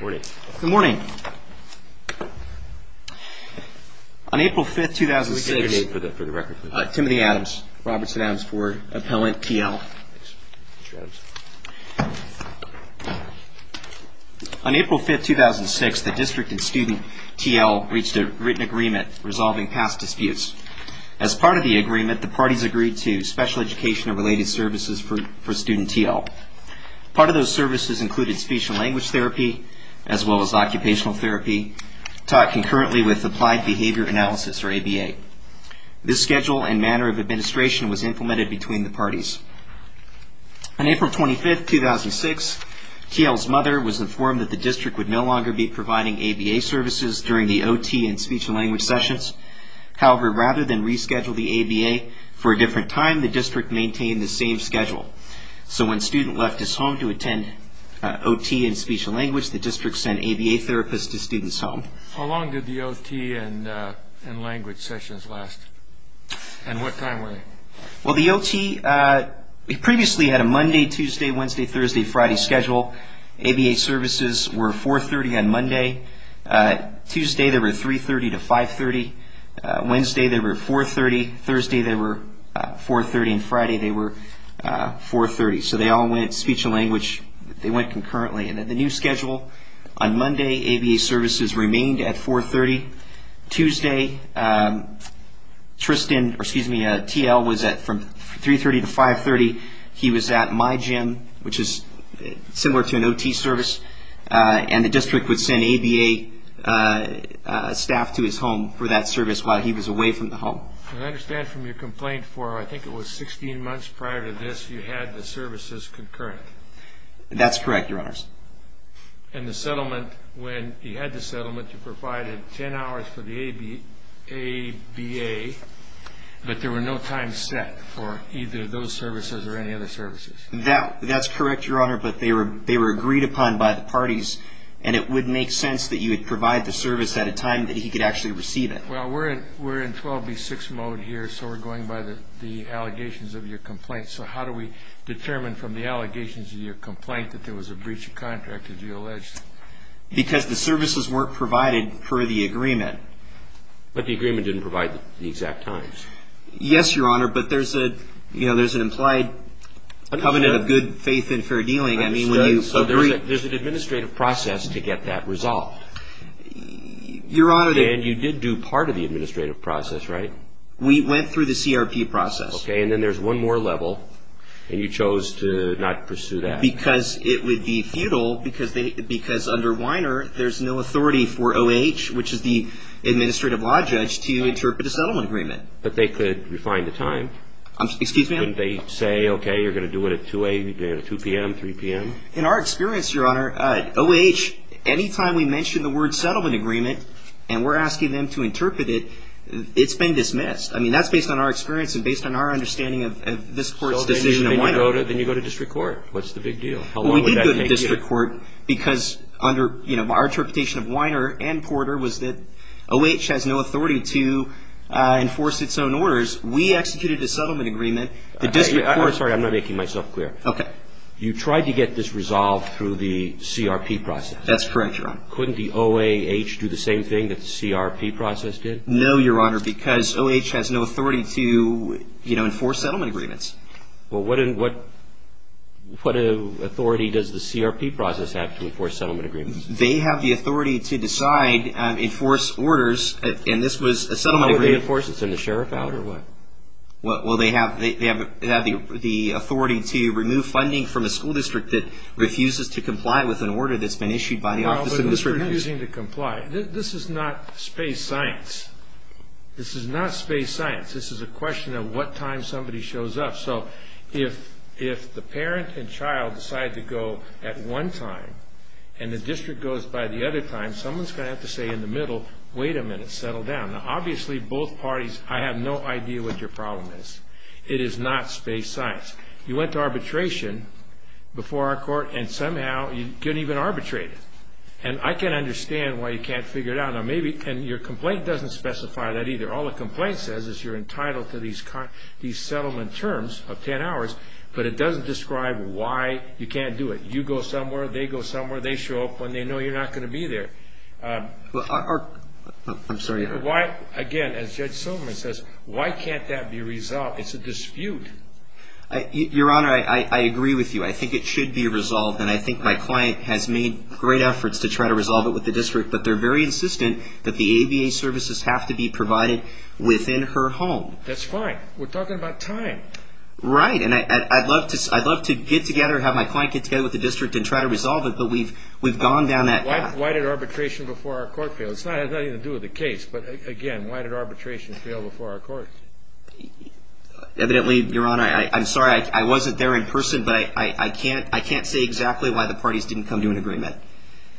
Good morning. On April 5, 2006, the District and Student T.L. reached a written agreement resolving past disputes. As part of the agreement, the parties agreed to special education and occupational therapy, taught concurrently with Applied Behavior Analysis, or ABA. This schedule and manner of administration was implemented between the parties. On April 25, 2006, T.L.'s mother was informed that the District would no longer be providing ABA services during the OT and speech and language sessions. However, rather than reschedule the ABA for a different time, the District maintained the same schedule. So when Student left his home to attend OT and speech and language, the District sent ABA therapists to Student's home. How long did the OT and language sessions last? And what time were they? Well, the OT previously had a Monday, Tuesday, Wednesday, Thursday, Friday schedule. ABA services were 4.30 on Monday. Tuesday, they were 3.30 to 5.30. Wednesday, they were 4.30. Thursday, they were 4.30. And Friday, they were 4.30. So they all went speech and language. They went concurrently. And the new schedule on Monday, ABA services remained at 4.30. Tuesday, Tristan, or excuse me, T.L. was at from 3.30 to 5.30. He was at my gym, which is similar to an OT service. And the District would send ABA staff to his home for that service while he was away from the home. I understand from your complaint for, I think it was 16 months prior to this, you had the services concurrent. That's correct, Your Honors. And the settlement, when you had the settlement, you provided 10 hours for the ABA, but there were no times set for either of those services or any other services. That's correct, Your Honor, but they were agreed upon by the parties, and it would make sense that you would provide the service at a time that he could actually receive it. Well, we're in 12B6 mode here, so we're going by the allegations of your complaint. So how do we determine from the allegations of your complaint that there was a breach of contract, as you allege? Because the services weren't provided per the agreement. But the agreement didn't provide the exact times. Yes, Your Honor, but there's an implied covenant of good faith and fair dealing. I understand, so there's an administrative process to get that resolved. Your Honor, and you did do part of the administrative process, right? We went through the CRP process. Okay, and then there's one more level, and you chose to not pursue that. Because it would be futile, because under Weiner, there's no authority for OH, which is the administrative law judge, to interpret a settlement agreement. But they could refine the time. Excuse me? Couldn't they say, okay, you're going to do it at 2 a.m., 2 p.m., 3 p.m.? In our experience, Your Honor, OH, any time we mention the word settlement agreement, and we're asking them to interpret it, it's been dismissed. I mean, that's based on our experience and based on our understanding of this court's decision of Weiner. Then you go to district court. What's the big deal? How long would that make it? We did go to district court, because under our interpretation of Weiner and Porter was that OH has no authority to enforce its own orders. We executed a settlement agreement. The district court... Sorry, I'm not making myself clear. Okay. You tried to get this resolved through the CRP process. That's correct, Your Honor. Couldn't the OAH do the same thing that the CRP process did? No, Your Honor, because OH has no authority to enforce settlement agreements. Well, what authority does the CRP process have to enforce settlement agreements? They have the authority to decide and enforce orders, and this was a settlement agreement. How would they enforce it? Send the sheriff out or what? Well, they have the authority to remove funding from a school district that refuses to comply with an order that's been issued by the office of the district... Well, but they're refusing to comply. This is not space science. This is not space science. This is a question of what time somebody shows up. So if the parent and child decide to go at one time and the district goes by the other time, someone's going to have to say in the middle, wait a minute, settle down. Now, obviously both parties, I have no idea what your problem is. It is not space science. You went to arbitration before our court and somehow you couldn't even arbitrate it. And I can understand why you can't figure it out. Now, maybe, and your complaint doesn't specify that either. All the complaint says is you're entitled to these settlement terms of 10 hours, but it doesn't describe why you can't do it. You go somewhere, they go somewhere, they show up when they know you're not going to be there. Well, I'm sorry. Why, again, as Judge Silverman says, why can't that be resolved? It's a dispute. Your Honor, I agree with you. I think it should be resolved and I think my client has made great efforts to try to resolve it with the district, but they're very insistent that the ABA services have to be provided within her home. That's fine. We're talking about time. Right. And I'd love to get together, have my client get together with the district and try to resolve it, but we've gone down that path. Why did arbitration before our court fail? It has nothing to do with the case, but, again, why did arbitration fail before our court? Evidently, Your Honor, I'm sorry, I wasn't there in person, but I can't say exactly why the parties didn't come to an agreement.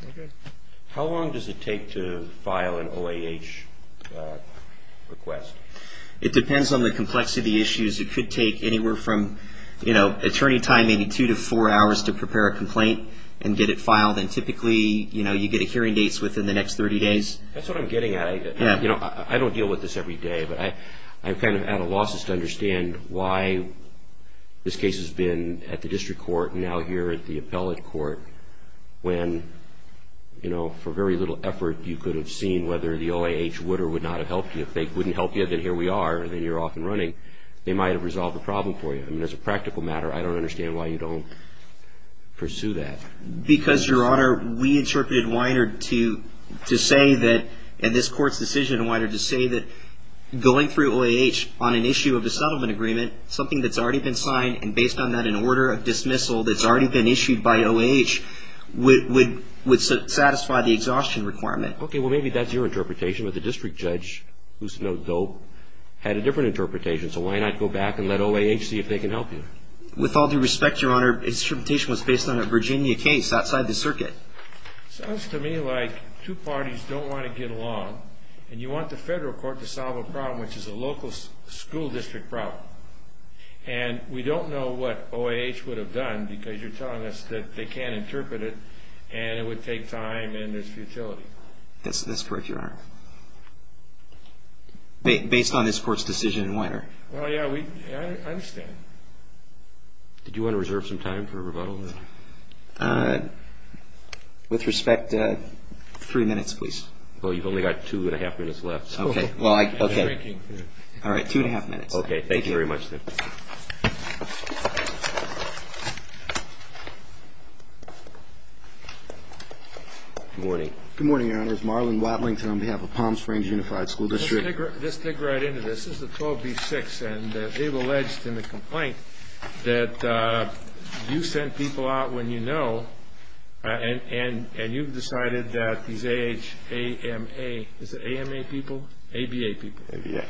Okay. How long does it take to file an OAH request? It depends on the complexity of the issues. It could take anywhere from, you know, attorney time, maybe two to four hours to prepare a complaint and get it filed. And typically, you know, you get a hearing dates within the next 30 days. That's what I'm getting at. You know, I don't deal with this every day, but I'm kind of at a loss as to understand why this case has been at the district court and now here at the appellate court when, you know, for very little effort you could have seen whether the OAH would or would not have helped you. If they wouldn't help you, then here we are, and then you're off and running. They might have resolved the problem for you. I mean, as a practical matter, I don't understand why you don't pursue that. Because, Your Honor, we interpreted Wiener to say that, in this court's decision, Wiener to say that going through OAH on an issue of the settlement agreement, something that's already been signed, and based on that, an order of dismissal that's already been issued by OAH would satisfy the exhaustion requirement. Okay. Well, maybe that's your interpretation, but the district judge, who's no dope, had a different interpretation. So why not go back and let OAH see if they can help you? With all due respect, Your Honor, his interpretation was based on a Virginia case outside the circuit. Sounds to me like two parties don't want to get along, and you want the federal court to solve a problem, which is a local school district problem. And we don't know what OAH would have done, because you're telling us that they can't interpret it, and it would take time, and there's futility. That's correct, Your Honor. Based on this court's decision in Wiener. Well, yeah, we, I understand. Okay. Did you want to reserve some time for rebuttal? With respect, three minutes, please. Well, you've only got two and a half minutes left. Okay. Well, I, okay. And drinking. All right. Two and a half minutes. Okay. Thank you very much, then. Good morning. Good morning, Your Honor. It's Marlon Watlington on behalf of Palm Springs Unified School District. Let's dig right into this. This is a 12B6, and they've alleged in the complaint that you sent people out when you know, and you've decided that these AHA, AMA, is it AMA people, ABA people,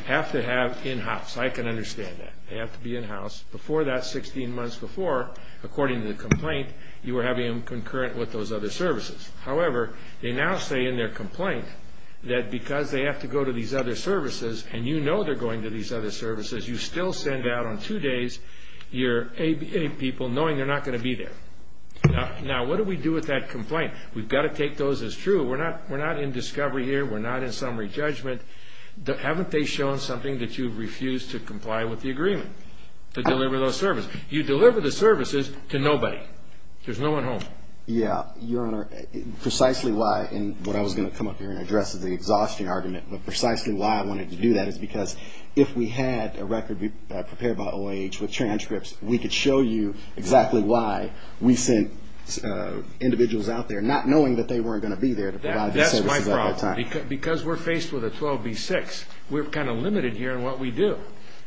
have to have in-house. I can understand that. They have to be in-house. Before that, 16 months before, according to the complaint, you were having them concurrent with those other services. However, they now say in their complaint that because they have to go to these other services and you know they're going to these other services, you still send out on two days your ABA people knowing they're not going to be there. Now, what do we do with that complaint? We've got to take those as true. We're not in discovery here. We're not in summary judgment. Haven't they shown something that you've refused to comply with the agreement to deliver those services? You deliver the services to nobody. There's no one home. Yeah. Your Honor, precisely why, and what I was going to come up here and address is the exhaustion argument, but precisely why I wanted to do that is because if we had a record prepared by OAH with transcripts, we could show you exactly why we sent individuals out there not knowing that they weren't going to be there to provide the services at that time. Because we're faced with a 12B6, we're kind of limited here in what we do.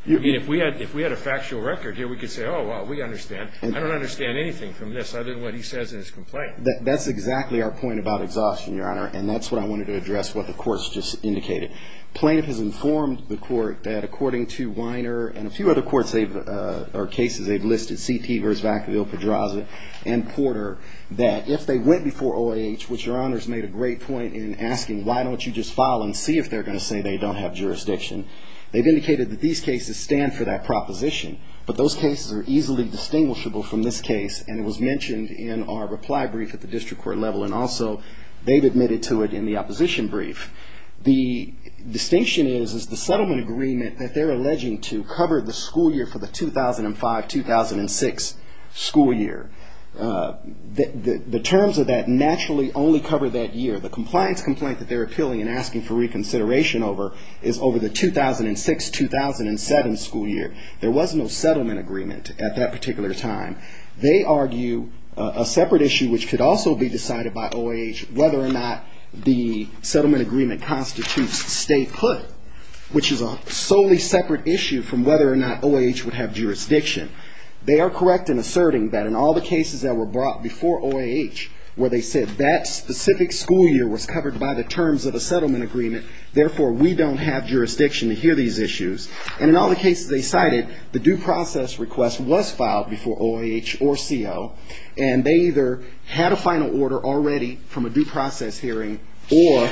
I mean, if we had a factual record here, we could say, oh, well, we understand. I don't understand anything from this other than what he says in his complaint. That's exactly our point about exhaustion, Your Honor, and that's what I wanted to address what the court's just indicated. Plaintiff has informed the court that according to Weiner and a few other courts they've, or cases they've listed, CT versus Vacaville, Pedraza, and Porter, that if they went before OAH, which Your Honor's made a great point in asking, why don't you just file and see if they're going to say they don't have jurisdiction. They've indicated that these cases stand for that proposition, but those cases are easily distinguishable from this case, and it was mentioned in our reply brief at the district court level, and also they've admitted to it in the opposition brief. The distinction is, is the settlement agreement that they're alleging to cover the school year for the 2005-2006 school year. The terms of that naturally only cover that year. The compliance complaint that they're appealing and asking for reconsideration over is over the 2006-2007 school year. There was no settlement agreement at that particular time. They argue a separate issue, which could also be decided by OAH, whether or not the settlement agreement constitutes statehood, which is a solely separate issue from whether or not OAH would have jurisdiction. They are correct in asserting that in all the cases that were brought before OAH, where they said that specific school year was covered by the terms of the settlement agreement, therefore, we don't have jurisdiction to hear these issues. And in all the cases they cited, the due process request was filed before OAH or CO, and they either had a final order already from a due process hearing, or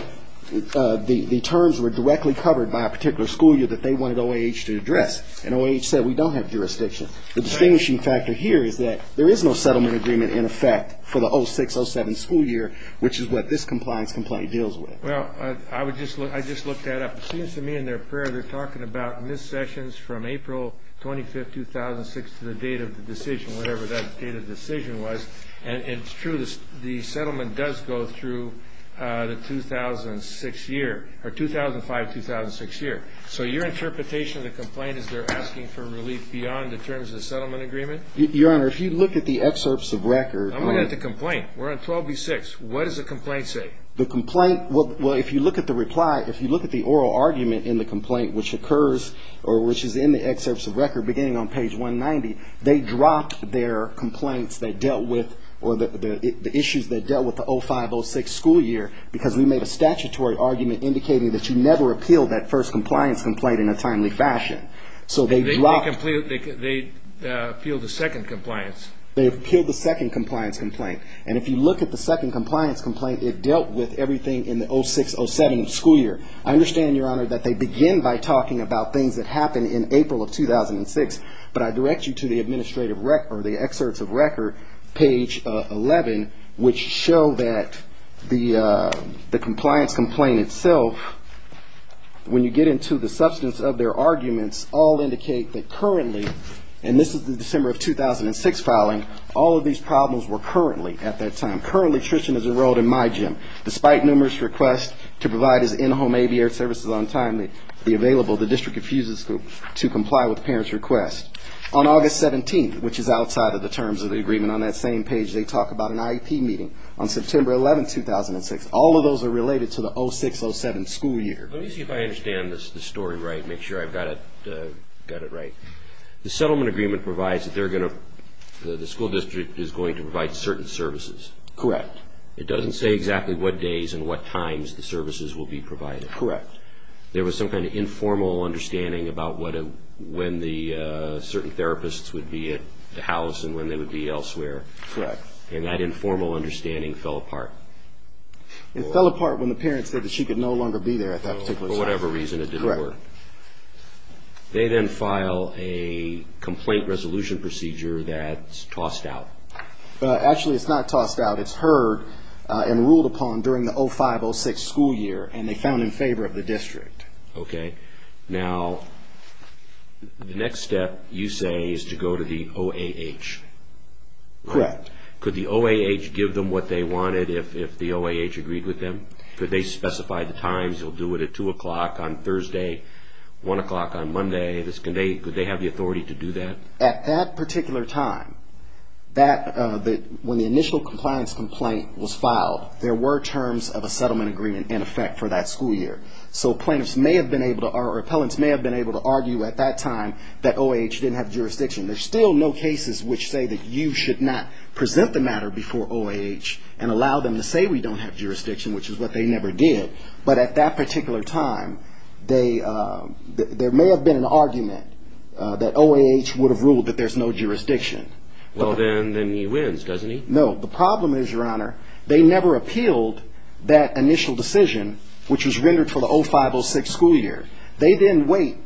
the terms were directly covered by a particular school year that they wanted OAH to address, and OAH said we don't have jurisdiction. The distinguishing factor here is that there is no settlement agreement, in effect, for the 2006-2007 school year, which is what this compliance complaint deals with. Well, I would just look, I just looked that up. It seems to me in their prayer, they're talking about missed sessions from April 25, 2006, to the date of the decision, whatever that date of decision was. And it's true, the settlement does go through the 2006 year, or 2005-2006 year. So your interpretation of the complaint is they're asking for relief beyond the terms of the settlement agreement? Your Honor, if you look at the excerpts of record. I'm looking at the complaint. We're on 12B6. What does the complaint say? The complaint, well, if you look at the reply, if you look at the oral argument in the complaint, which occurs, or which is in the excerpts of record, beginning on page 190, they dropped their complaints that dealt with, or the issues that dealt with the 2005-2006 school year, because we made a statutory argument indicating that you never appealed that first compliance complaint in a timely fashion. So they dropped. They appealed the second compliance. They appealed the second compliance complaint. And if you look at the second compliance complaint, it dealt with everything in the 06-07 school year. I understand, Your Honor, that they begin by talking about things that happened in April of 2006, but I direct you to the administrative, or the excerpts of record, page 11, which show that the compliance complaint itself, when you get into the substance of their arguments, all indicate that currently, and this is the December of 2006 filing, all of these problems were currently, at that time, currently, Tristan is enrolled in my gym. Despite numerous requests to provide his in-home ABA services on time, the available, the district refuses to comply with parents' requests. On August 17th, which is outside of the terms of the agreement on that same page, they talk about an IEP meeting on September 11th, 2006. All of those are related to the 06-07 school year. Let me see if I understand the story right, make sure I've got it right. The settlement agreement provides that they're going to, the school district is going to provide certain services. Correct. It doesn't say exactly what days and what times the services will be provided. Correct. There was some kind of informal understanding about when the certain therapists would be at the house and when they would be elsewhere. Correct. And that informal understanding fell apart. It fell apart when the parents said that she could no longer be there at that particular time. For whatever reason, it didn't work. Correct. They then file a complaint resolution procedure that's tossed out. Actually, it's not tossed out. It's heard and ruled upon during the 05-06 school year, and they found in favor of the district. Okay. Now, the next step, you say, is to go to the OAH. Correct. Could the OAH give them what they wanted if the OAH agreed with them? Could they specify the times? You'll do it at 2 o'clock on Thursday, 1 o'clock on Monday. Could they have the authority to do that? At that particular time, when the initial compliance complaint was filed, there were terms of a settlement agreement in effect for that school year. So plaintiffs may have been able to, or appellants may have been able to argue at that time that OAH didn't have jurisdiction. There's still no cases which say that you should not present the matter before OAH and allow them to say we don't have jurisdiction, which is what they never did. But at that particular time, there may have been an argument that OAH would have ruled that there's no jurisdiction. Well, then he wins, doesn't he? No. The problem is, Your Honor, they never appealed that initial decision, which was rendered for the 05-06 school year. They then wait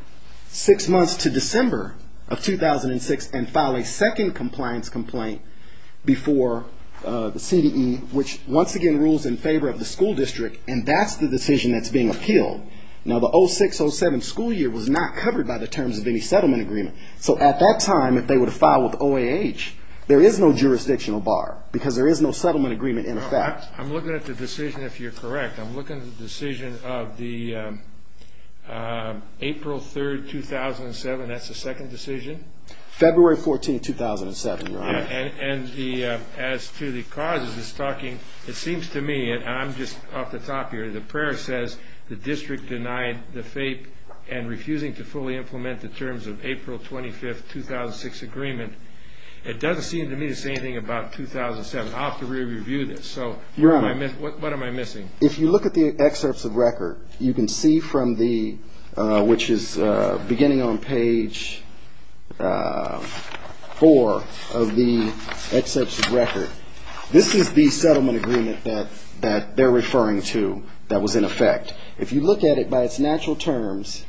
six months to December of 2006 and file a second compliance complaint before the CDE, which once again rules in favor of the school district, and that's the decision that's being appealed. Now, the 06-07 school year was not covered by the terms of any settlement agreement. So at that time, if they were to file with OAH, there is no jurisdictional bar because there is no settlement agreement in effect. I'm looking at the decision, if you're correct. I'm looking at the decision of the April 3, 2007. That's the second decision? February 14, 2007, Your Honor. And as to the causes, it's talking, it seems to me, and I'm just off the top here, the prayer says the district denied the FAPE and refusing to fully implement the terms of April 25, 2006 agreement, it doesn't seem to me to say anything about 2007. I'll have to re-review this. So what am I missing? If you look at the excerpts of record, you can see from the, which is beginning on page four of the excerpts of record, this is the settlement agreement that they're referring to that was in effect. If you look at it by its natural terms,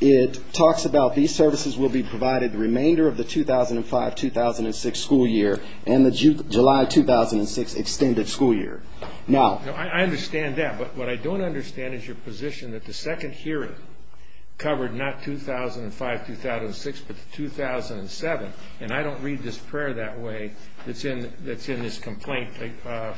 it talks about these services will be provided the remainder of the 2005-2006 school year and the July 2006 extended school year. Now, I understand that, but what I don't understand is your position that the second hearing covered not 2005-2006, but the 2007. And I don't read this prayer that way that's in this complaint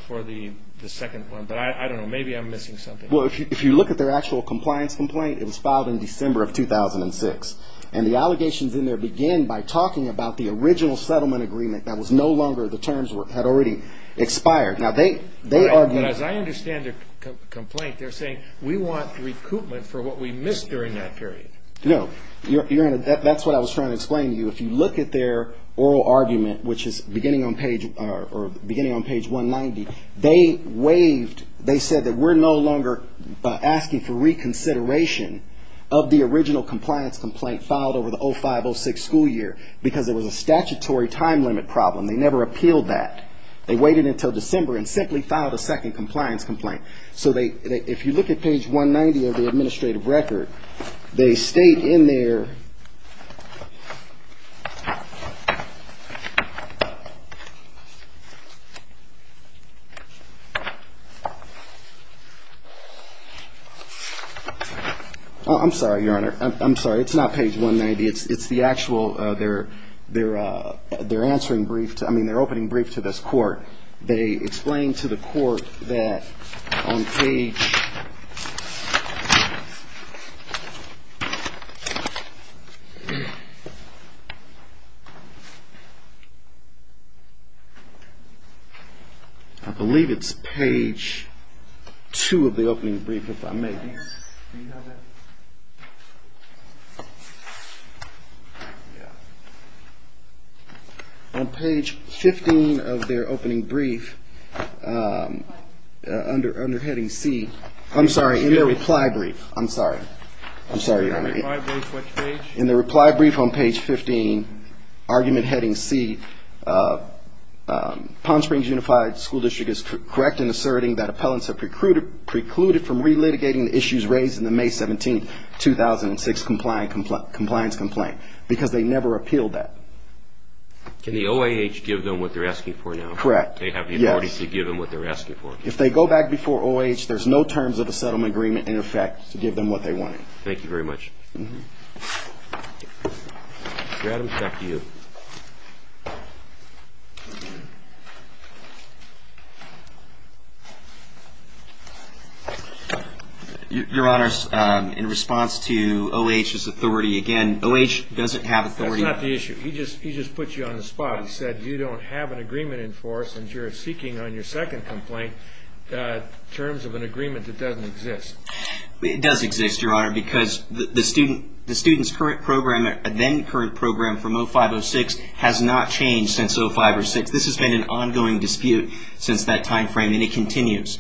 for the second one. But I don't know, maybe I'm missing something. Well, if you look at their actual compliance complaint, it was filed in December of 2006. And the allegations in there begin by talking about the original settlement agreement that was no longer, the terms had already expired. Now, they argue. But as I understand the complaint, they're saying we want recoupment for what we missed during that period. No. That's what I was trying to explain to you. If you look at their oral argument, which is beginning on page 190, they waived, they said that we're no longer asking for reconsideration of the original compliance complaint filed over the 2005-2006 school year because it was a statutory time limit problem. They never appealed that. They waited until December and simply filed a second compliance complaint. So they, if you look at page 190 of the administrative record, they state in there. I'm sorry, Your Honor. I'm sorry. It's not page 190. It's the actual, they're answering brief to, I mean, they're opening brief to this court. They explain to the court that on page, I believe it's page two of the opening brief, if I may. On page 15 of their opening brief, under heading C, I'm sorry, in their reply brief. I'm sorry. I'm sorry, Your Honor. In the reply brief on page 15, argument heading C, Palm Springs Unified School District is correct in asserting that appellants have precluded from re-litigating the issues raised in the May 17, 2006 compliance complaint because they never appealed that. Can the OAH give them what they're asking for now? Correct. Do they have the authority to give them what they're asking for? If they go back before OAH, there's no terms of a settlement agreement in effect to give them what they wanted. Thank you very much. Your Honor, I'm back to you. Your Honor, in response to OAH's authority, again, OAH doesn't have authority. That's not the issue. He just put you on the spot. He said you don't have an agreement in force and you're seeking on your second complaint terms of an agreement that doesn't exist. It does exist, Your Honor, because the student's current program, then current program from 05-06 has not changed since 05-06. This has been an ongoing dispute since that time frame, and it continues.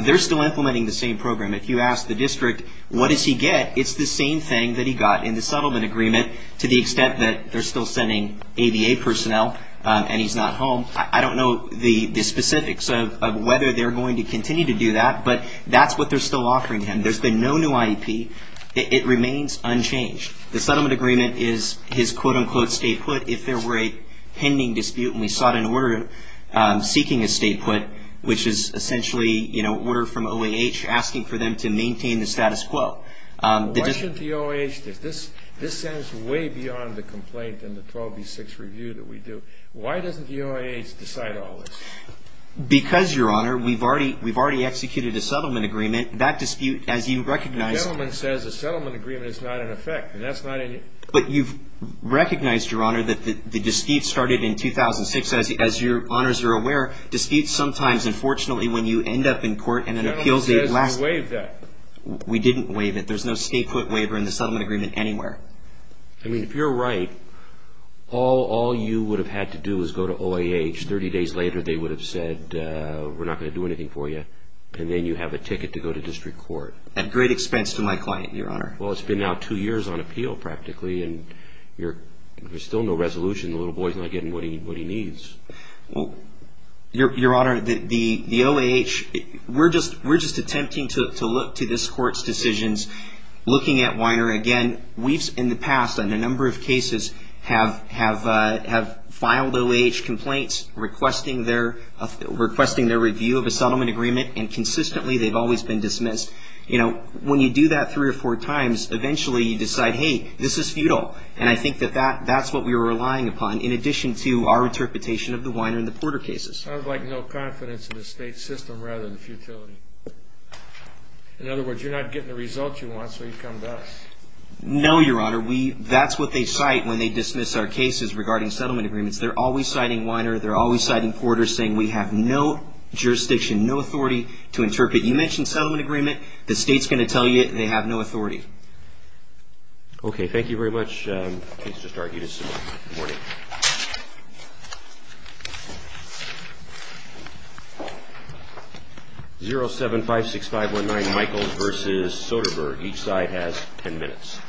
They're still implementing the same program. If you ask the district, what does he get, it's the same thing that he got in the settlement agreement to the extent that they're still sending ABA personnel and he's not home, I don't know the specifics of whether they're going to continue to do that, but that's what they're still offering him. There's been no new IEP. It remains unchanged. The settlement agreement is his, quote, unquote, state put if there were a pending dispute and we sought an order seeking a state put, which is essentially, you know, order from OAH asking for them to maintain the status quo. The dispute. Why shouldn't the OAH, this says way beyond the complaint and the 12-B-6 review that we do. Why doesn't the OAH decide all this? Because, Your Honor, we've already executed a settlement agreement. That dispute, as you recognize. The gentleman says a settlement agreement is not in effect, and that's not in. But you've recognized, Your Honor, that the dispute started in 2006. As your honors are aware, disputes sometimes, unfortunately, when you end up in court and an appeal is the last. The gentleman says we waived that. We didn't waive it. There's no state put waiver in the settlement agreement anywhere. I mean, if you're right, all you would have had to do is go to OAH. Thirty days later, they would have said, we're not going to do anything for you, and then you have a ticket to go to district court. At great expense to my client, Your Honor. Well, it's been now two years on appeal, practically, and there's still no resolution. The little boy's not getting what he needs. Well, Your Honor, the OAH, we're just attempting to look to this court's decisions. Looking at Weiner, again, we've, in the past, in a number of cases, have filed OAH complaints, requesting their review of a settlement agreement, and consistently they've always been dismissed. You know, when you do that three or four times, eventually you decide, hey, this is futile, and I think that that's what we were relying upon, in addition to our interpretation of the Weiner and the Porter cases. Sounds like no confidence in the state system, rather than futility. In other words, you're not getting the results you want, so you come to us. No, Your Honor. We, that's what they cite when they dismiss our cases regarding settlement agreements. They're always citing Weiner. They're always citing Porter, saying we have no jurisdiction, no authority to interpret. You mention settlement agreement, the state's going to tell you they have no authority. Okay. Thank you very much. The case just argued this morning. 0756519, Michaels v. Soderbergh. Each side has ten minutes.